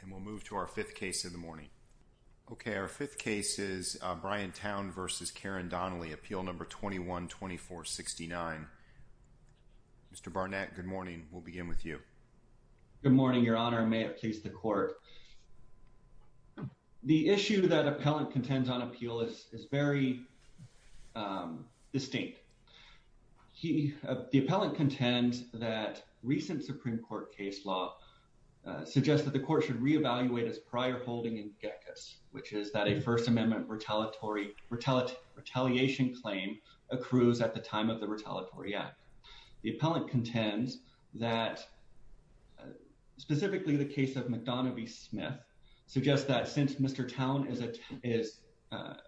And we'll move to our fifth case of the morning. Okay, our fifth case is Brian Towne v. Karen Donnelly, appeal number 21-2469. Mr. Barnett, good morning. We'll begin with you. Good morning, your honor. May it please the court. The issue that appellant contends on appeal is very distinct. The appellant contends that recent Supreme Court case law suggests that the court should reevaluate its prior holding in geckos, which is that a First Amendment retaliation claim accrues at the time of the Retaliatory Act. The appellant contends that specifically the case of McDonough v. Smith suggests that since Mr. Towne is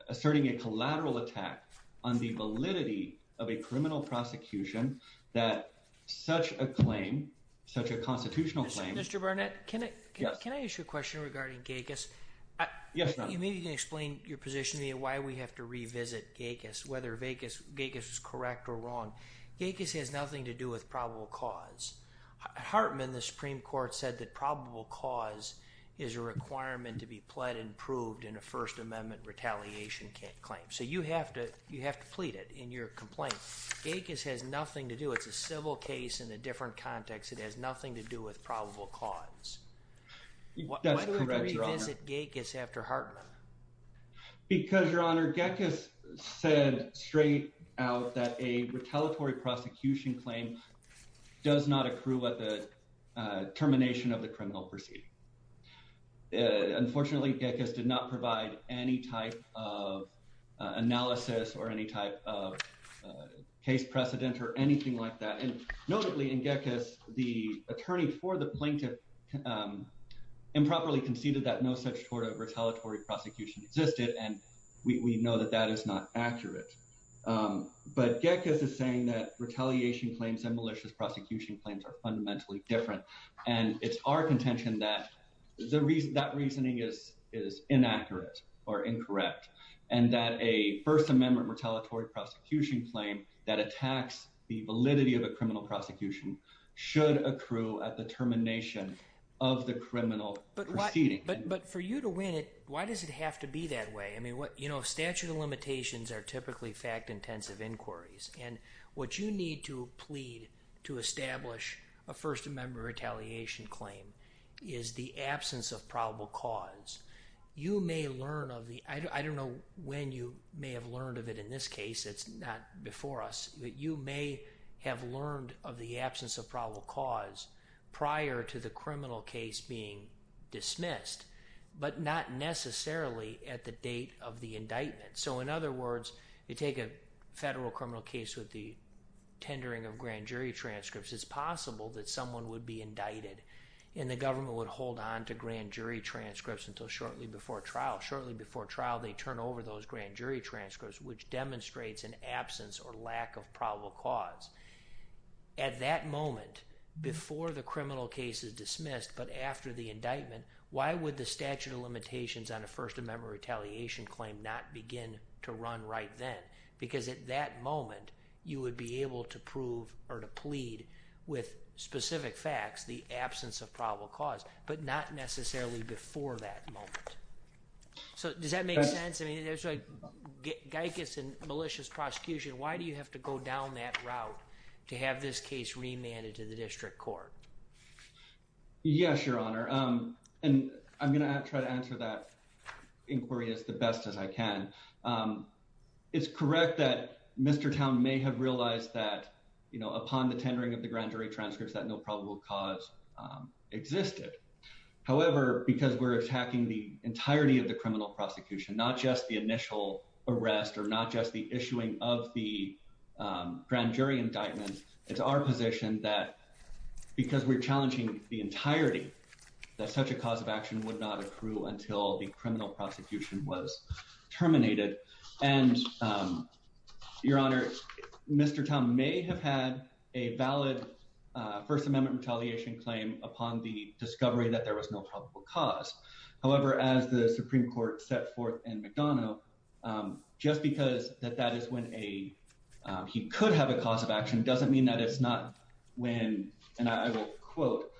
asserting a collateral attack on the validity of a criminal prosecution, that such a claim, such a constitutional claim... Mr. Barnett, can I ask you a question regarding geckos? Yes, your honor. Maybe you can explain your position, why we have to revisit geckos, whether geckos is correct or wrong. Geckos has nothing to do with probable cause. Hartman, the Supreme Court, said that probable cause is a requirement to be pled and proved in a First Amendment retaliation claim. So you have to plead it in your complaint. Geckos has nothing to do, it's a civil case in a different context, it has nothing to do with probable cause. That's correct, your honor. Why do we revisit geckos after Hartman? Because, your honor, geckos said straight out that a retaliatory prosecution claim does not accrue at the termination of the criminal proceeding. Unfortunately, geckos did not provide any type of case precedent or anything like that, and notably in geckos, the attorney for the plaintiff improperly conceded that no such sort of retaliatory prosecution existed, and we know that that is not accurate. But geckos is saying that retaliation claims and malicious prosecution claims are fundamentally different, and it's our contention that that reasoning is inaccurate or incorrect, and that a First Amendment retaliatory prosecution claim that attacks the validity of a criminal prosecution should accrue at the termination of the criminal proceeding. But for you to win it, why does it have to be that way? I mean, you know, statute of limitations are typically fact-intensive inquiries, and what you need to plead to establish a First Amendment retaliation claim is the absence of probable cause. You may learn of the, I don't know when you may have learned of it in this case, it's not before us, but you may have learned of the absence of probable cause prior to the criminal case being dismissed, but not necessarily at the date of the indictment. So in other words, you take a federal criminal case with the someone would be indicted, and the government would hold on to grand jury transcripts until shortly before trial. Shortly before trial, they turn over those grand jury transcripts, which demonstrates an absence or lack of probable cause. At that moment, before the criminal case is dismissed, but after the indictment, why would the statute of limitations on a First Amendment retaliation claim not begin to run right then? Because at that moment, you would be able to get specific facts, the absence of probable cause, but not necessarily before that moment. So does that make sense? I mean, it's like, Guy gets a malicious prosecution, why do you have to go down that route to have this case remanded to the district court? Yes, Your Honor. And I'm going to try to answer that inquiry as the best as I can. It's correct that Mr. Towne may have realized that, you know, upon the tendering of the grand jury transcripts that no probable cause existed. However, because we're attacking the entirety of the criminal prosecution, not just the initial arrest, or not just the issuing of the grand jury indictment, it's our position that because we're challenging the entirety, that such a cause of action would not accrue until the criminal prosecution was terminated. And Your Honor, Mr. Towne may have had a valid First Amendment retaliation claim upon the discovery that there was no probable cause. However, as the Supreme Court set forth in McDonough, just because that that is when he could have a cause of action doesn't mean that it's not when, and I will quote,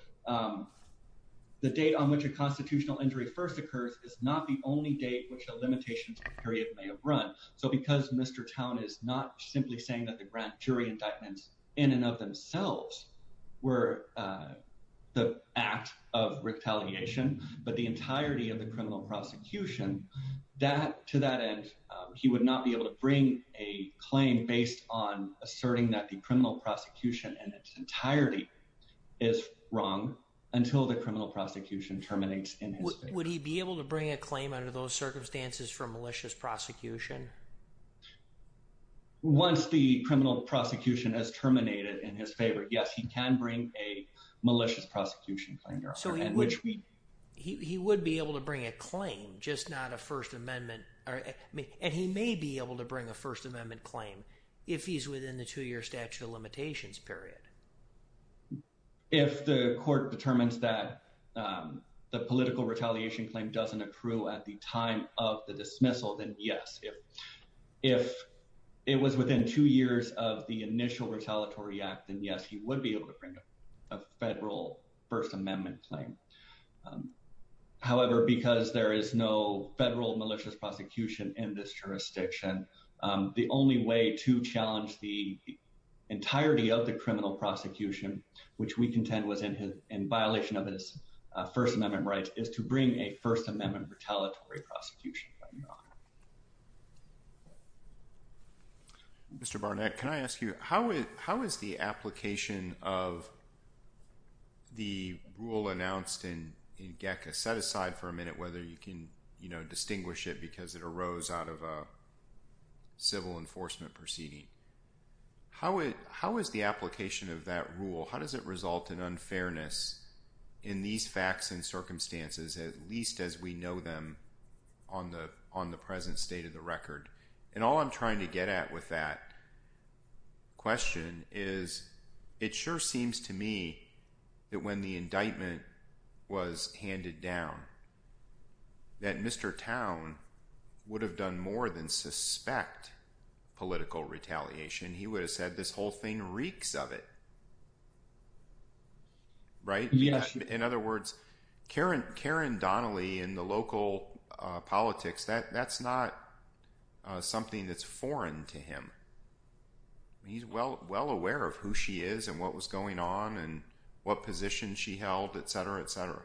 the date on which a constitutional injury first occurs is not the only date which the limitations period may have run. So because Mr. Towne is not simply saying that the grand jury indictments in and of themselves were the act of retaliation, but the entirety of the criminal prosecution, to that end, he would not be able to bring a claim based on asserting that the criminal prosecution in its entirety is wrong until the criminal prosecution terminates in his favor. Would he be able to bring a claim under those circumstances for malicious prosecution? Once the criminal prosecution has terminated in his favor, yes, he can bring a malicious prosecution claim, Your Honor. He would be able to bring a claim, just not a First Amendment, and he may be able to bring a First Amendment claim if he's within the two-year statute of limitations period. And if the court determines that the political retaliation claim doesn't accrue at the time of the dismissal, then yes. If it was within two years of the initial retaliatory act, then yes, he would be able to bring a federal First Amendment claim. However, because there is no federal malicious prosecution in this jurisdiction, the only way to challenge the criminal prosecution, which we contend was in violation of his First Amendment rights, is to bring a First Amendment retaliatory prosecution, Your Honor. Mr. Barnett, can I ask you, how is the application of the rule announced in GECA, set aside for a minute, whether you can distinguish it because it arose out of a rule? How does it result in unfairness in these facts and circumstances, at least as we know them on the present state of the record? And all I'm trying to get at with that question is, it sure seems to me that when the indictment was handed down, that Mr. Towne would have done more than suspect political retaliation. He would have said, this whole thing reeks of it. Right? In other words, Karen Donnelly in the local politics, that's not something that's foreign to him. He's well aware of who she is and what was going on and what position she held, etc., etc.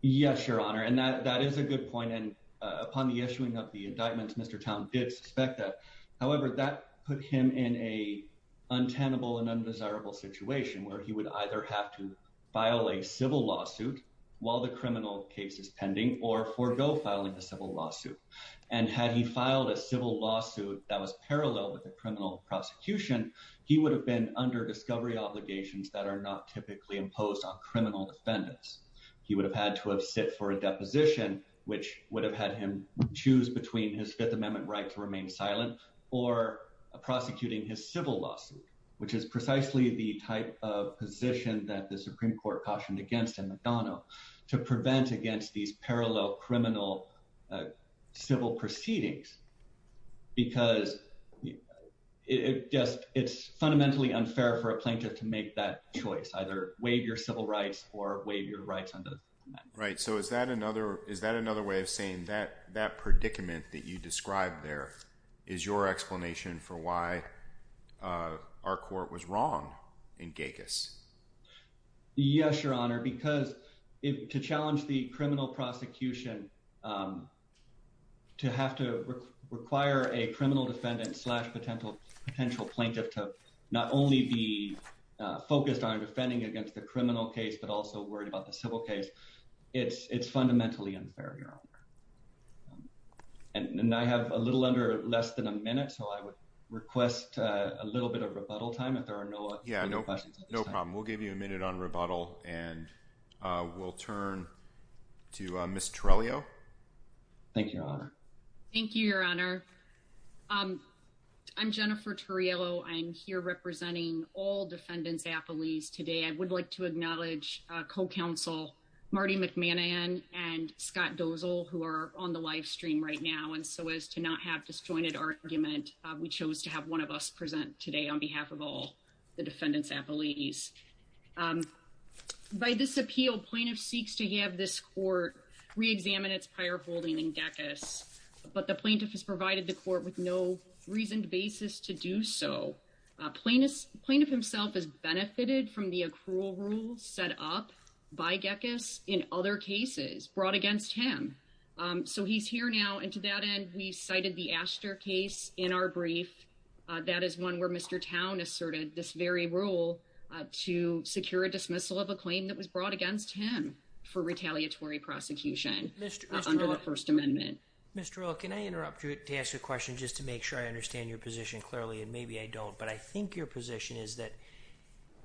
Yes, Your Honor. And that is a good point. Upon the issuing of the indictments, Mr. Towne did suspect that. However, that put him in a untenable and undesirable situation where he would either have to file a civil lawsuit while the criminal case is pending or forego filing a civil lawsuit. And had he filed a civil lawsuit that was parallel with the criminal prosecution, he would have been under discovery obligations that are not typically imposed on criminal defendants. He would have had to have sit for a deposition, which would have had him choose between his Fifth Amendment right to remain silent or prosecuting his civil lawsuit, which is precisely the type of position that the Supreme Court cautioned against in McDonnell to prevent against these parallel criminal civil proceedings. Because it's fundamentally unfair for a plaintiff to make that Right. So is that another way of saying that that predicament that you described there is your explanation for why our court was wrong in Gekas? Yes, Your Honor. Because to challenge the criminal prosecution, to have to require a criminal defendant slash potential plaintiff to not only be It's fundamentally unfair, Your Honor. And I have a little under less than a minute, so I would request a little bit of rebuttal time if there are no questions. No problem. We'll give you a minute on rebuttal, and we'll turn to Ms. Torellio. Thank you, Your Honor. Thank you, Your Honor. I'm Jennifer Toriello. I'm here representing all defendants' appellees today. I would like to acknowledge co-counsel Marty McMahon and Scott Dozel, who are on the live stream right now. And so as to not have disjointed argument, we chose to have one of us present today on behalf of all the defendants' appellees. By this appeal, plaintiff seeks to have this court reexamine its prior holding in Gekas, but the plaintiff has provided the court with no reasoned basis to do so. Plaintiff himself has benefited from the accrual rules set up by Gekas in other cases brought against him. So he's here now, and to that end, we cited the Astor case in our brief. That is one where Mr. Towne asserted this very rule to secure a dismissal of a claim that was brought against him for retaliatory prosecution under the First Amendment. Mr. Earl, can I interrupt you to ask a question just to make sure I understand your position clearly, and maybe I don't, but I think your position is that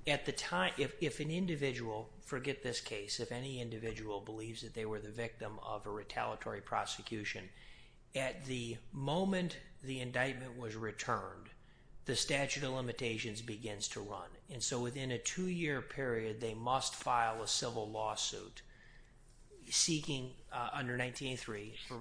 at the time, if an individual, forget this case, if any individual believes that they were the victim of a retaliatory prosecution, at the moment the indictment was returned, the statute of limitations begins to run. And so within a two-year period, they must file a civil lawsuit seeking under 1983 for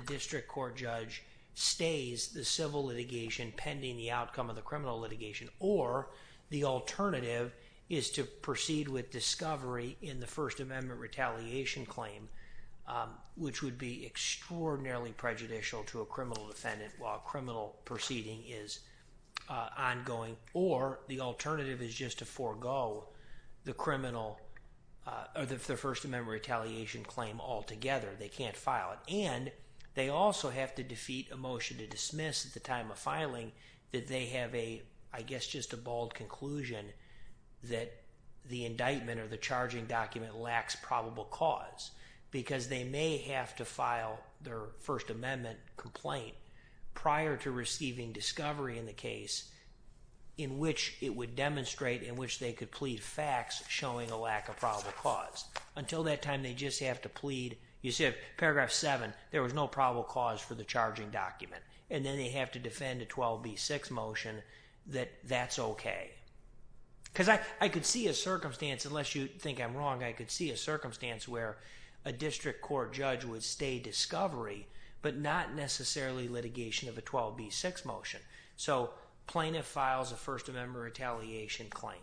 district court judge stays the civil litigation pending the outcome of the criminal litigation, or the alternative is to proceed with discovery in the First Amendment retaliation claim, which would be extraordinarily prejudicial to a criminal defendant while criminal proceeding is ongoing, or the alternative is just to forego the First Amendment retaliation claim altogether. They can't file it. And they also have to defeat a motion to dismiss at the time of filing that they have a, I guess, just a bold conclusion that the indictment or the charging document lacks probable cause because they may have to file their First Amendment complaint prior to receiving discovery in the case in which it would demonstrate in which they could plead facts showing a lack of probable cause. Until that time, they just have to plead. You see, paragraph 7, there was no probable cause for the charging document. And then they have to defend a 12b6 motion that that's okay. Because I could see a circumstance, unless you think I'm wrong, I could see a circumstance where a district court judge would stay discovery, but not necessarily litigation of a 12b6 motion. So plaintiff files a First Amendment retaliation claim.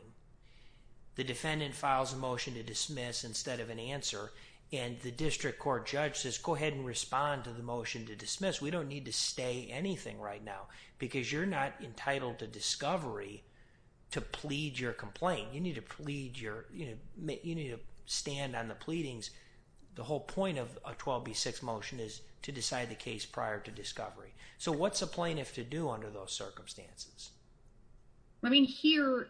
The defendant files a motion to dismiss instead of an answer. And the district court judge says, go ahead and respond to the motion to dismiss. We don't need to stay anything right now, because you're not entitled to discovery to plead your complaint. You need to stand on the pleadings. The whole point of a 12b6 motion is to decide the case prior to discovery. So what's a plaintiff to do under those circumstances? I mean, here,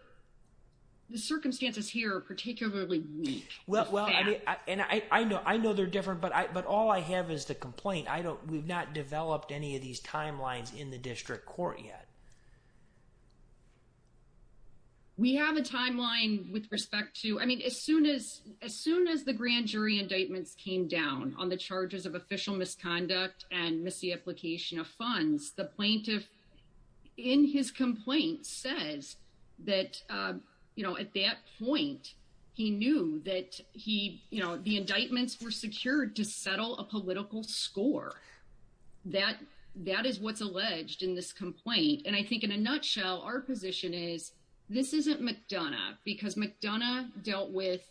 the circumstances here are particularly weak. Well, and I know they're different, but all I have is the complaint. I don't, we've not developed any of these timelines in the district court yet. We have a timeline with respect to, I mean, as soon as the grand jury indictments came down on the charges of official misconduct and misapplication of funds, the plaintiff in his complaint says that, you know, at that point, he knew that he, you know, the indictments were secured to settle a political score. That is what's alleged in this complaint. And I think in a nutshell, our position is this isn't McDonough because McDonough dealt with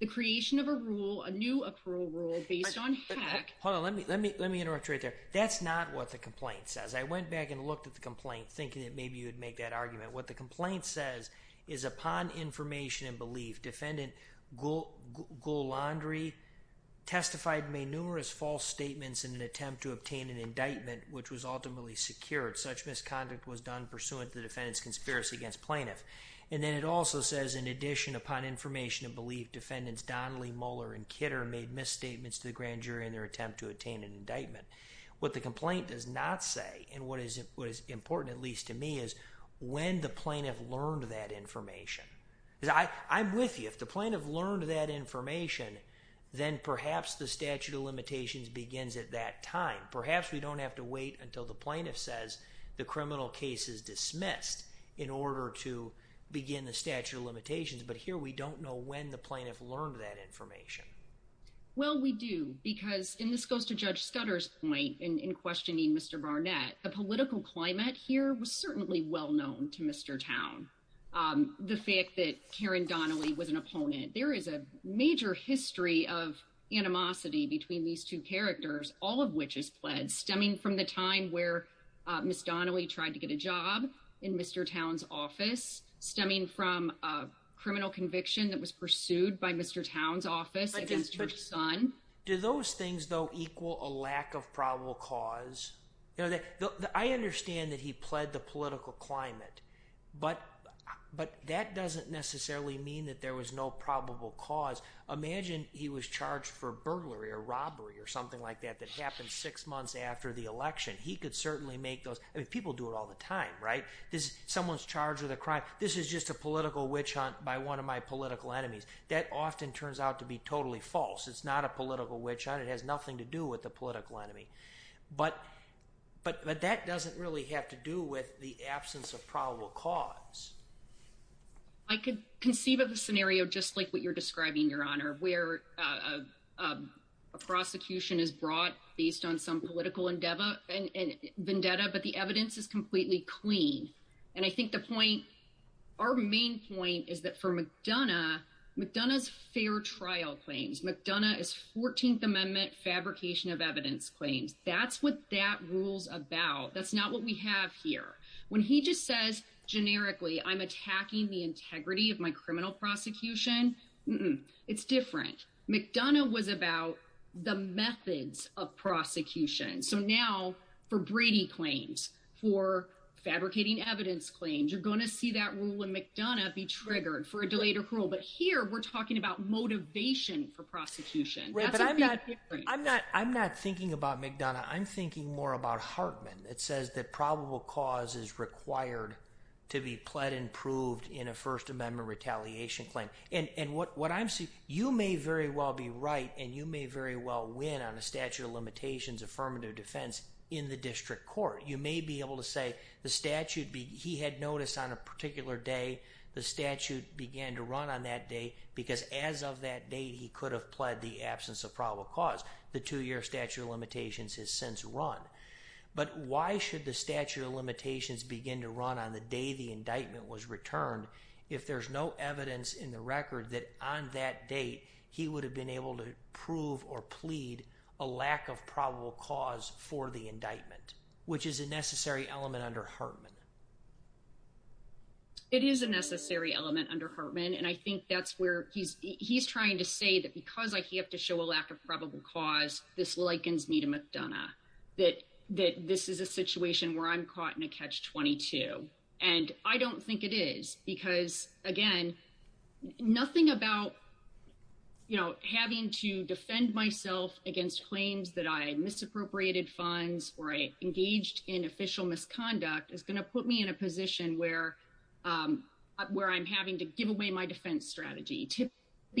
the creation of a rule, a new accrual rule based on hack. Hold on. Let me, let me, let me interrupt you right there. That's not what the complaint says. I went back and looked at the complaint thinking that maybe you would make that argument. What the complaint says is upon information and belief, defendant Golandry testified and made numerous false statements in an attempt to obtain an indictment, which was ultimately secured. Such misconduct was done pursuant to the defendant's conspiracy against plaintiff. And then it also says, in addition, upon information and belief defendants, Donnelly, Muller, and Kidder made misstatements to the grand jury in their attempt to attain an indictment. What the complaint does not say, and what is, what is important, at least to me is when the plaintiff learned that information. Because I, I'm with you. If the plaintiff learned that information, then perhaps the statute of limitations begins at that time. Perhaps we don't have to wait until the plaintiff says the criminal case is dismissed in order to begin the statute of limitations. But here we don't know when the plaintiff learned that information. Well, we do because, and this goes to Judge Scudder's point in questioning Mr. Barnett, the political climate here was certainly well known to Mr. Towne. The fact that Karen Donnelly was an opponent. There is a major history of animosity between these two characters, all of which is pledged, stemming from the time where Ms. Donnelly tried to get a job in Mr. Towne's office, stemming from a criminal conviction that was pursued by Mr. Towne's office against her son. Do those things though equal a lack of probable cause? You know, I understand that he pled the political climate, but, but that doesn't necessarily mean that there was no probable cause. Imagine he was charged for burglary or robbery or something like that, that happened six months after the election. He could certainly make those, I mean, people do it all the time, right? This, someone's charged with a crime. This is just a political witch hunt by one of my political enemies. That often turns out to be totally false. It's not a political witch hunt. It has nothing to do with the political enemy. But, but, but that doesn't really have to do with the absence of probable cause. I could conceive of a scenario just like what you're describing, your honor, where a prosecution is brought based on some political endeavor and vendetta, but the evidence is completely clean. And I think the point, our main point is that for McDonough, McDonough's fair trial claims, McDonough is 14th amendment fabrication of evidence claims. That's what that rule's about. That's not what we have here. When he just says, generically, I'm attacking the integrity of my criminal prosecution. It's different. McDonough was about the methods of prosecution. So now for Brady claims, for fabricating evidence claims, you're going to see that rule in McDonough be triggered for a delayed approval. But here, we're talking about motivation for prosecution. That's a big difference. I'm not thinking about McDonough. I'm thinking more about Hartman. It says that probable cause is required to be pled and proved in a first amendment retaliation claim. And what I'm seeing, you may very well be right. And you may very well win on a statute of limitations, affirmative defense in the district court. You may be able to say the statute, he had noticed on a particular day, the statute began to run on that day because as of that day, he could have pled the two-year statute of limitations has since run. But why should the statute of limitations begin to run on the day the indictment was returned if there's no evidence in the record that on that date, he would have been able to prove or plead a lack of probable cause for the indictment, which is a necessary element under Hartman. It is a necessary element under Hartman. And I think that's where he's trying to say that because I have to show a lack of probable cause, this likens me to McDonough, that this is a situation where I'm caught in a catch-22. And I don't think it is. Because again, nothing about having to defend myself against claims that I misappropriated funds or I engaged in official misconduct is going to put me in a typically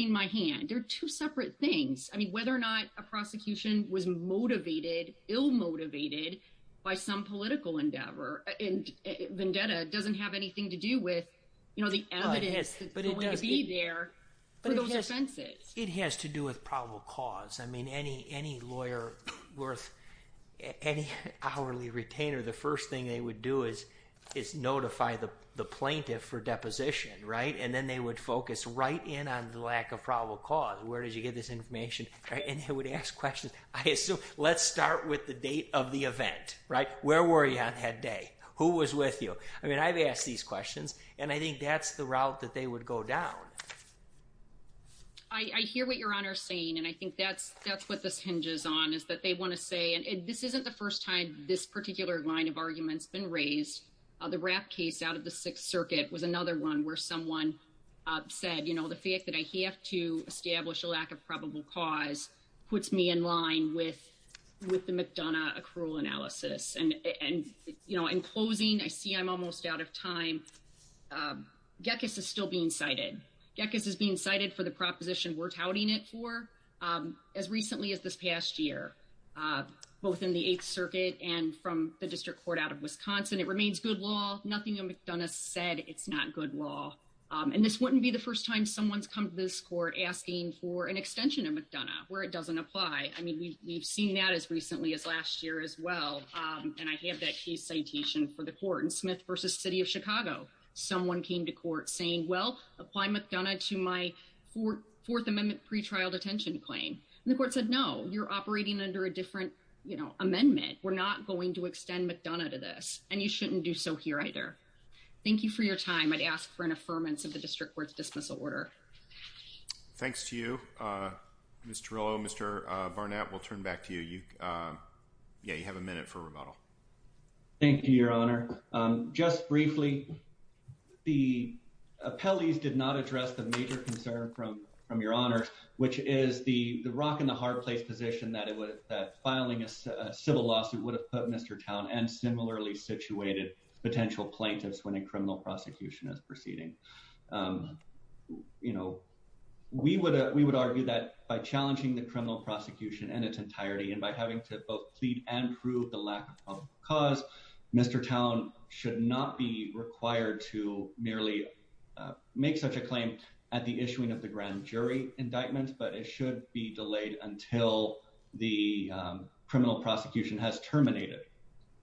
in my hand. They're two separate things. I mean, whether or not a prosecution was motivated, ill-motivated by some political endeavor, and vendetta doesn't have anything to do with, you know, the evidence that's going to be there for those offenses. It has to do with probable cause. I mean, any lawyer worth, any hourly retainer, the first thing they would do is notify the plaintiff for deposition, right? And then they would focus right in on the lack of probable cause. Where did you get this information? And they would ask questions. I assume, let's start with the date of the event, right? Where were you on that day? Who was with you? I mean, I've asked these questions and I think that's the route that they would go down. I hear what your honor is saying and I think that's what this hinges on, is that they want to say, and this isn't the first time this particular line of argument's been raised. The Rapp case out of the Sixth Circuit was another one where someone said, you know, the fact that I have to establish a lack of probable cause puts me in line with the McDonough accrual analysis. And, you know, in closing, I see I'm almost out of time. Gekas is still being cited. Gekas is being cited. I mean, this is a case that we've seen in the past year, both in the Eighth Circuit and from the District Court out of Wisconsin. It remains good law. Nothing in McDonough said it's not good law. And this wouldn't be the first time someone's come to this court asking for an extension of McDonough, where it doesn't apply. I mean, we've seen that as recently as last year as well. And I have that case citation for the court in Smith v. City of Chicago. Someone came to court saying, well, apply McDonough to my Fourth Amendment pretrial detention claim. And the court said, no, you're operating under a different, you know, amendment. We're not going to extend McDonough to this. And you shouldn't do so here either. Thank you for your time. I'd ask for an affirmance of the District Court's dismissal order. Thanks to you, Ms. Torello. Mr. Barnett, we'll turn back to you. Yeah, you have a minute for rebuttal. Thank you, Your Honor. Just briefly, the appellees did not address the major concern from Your Honor, which is the rock and the fireplace position that filing a civil lawsuit would have put Mr. Towne and similarly situated potential plaintiffs when a criminal prosecution is proceeding. You know, we would argue that by challenging the criminal prosecution in its entirety and by having to both plead and prove the lack of cause, Mr. Towne should not be required to merely make such a claim at the time until the criminal prosecution has terminated.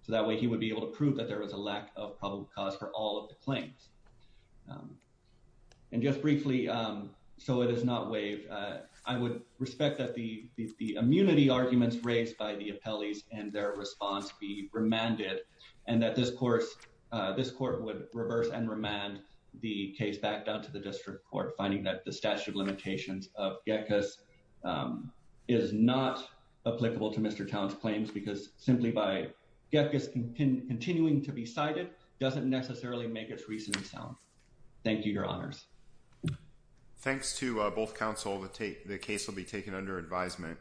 So that way he would be able to prove that there was a lack of probable cause for all of the claims. And just briefly, so it is not waived, I would respect that the immunity arguments raised by the appellees and their response be remanded and that this court would reverse and remand the case back down to the District Court, finding that the statute of limitations of GECKAS is not applicable to Mr. Towne's claims because simply by GECKAS continuing to be cited doesn't necessarily make its reasoning sound. Thank you, Your Honors. Thanks to both counsel. The case will be taken under advisement.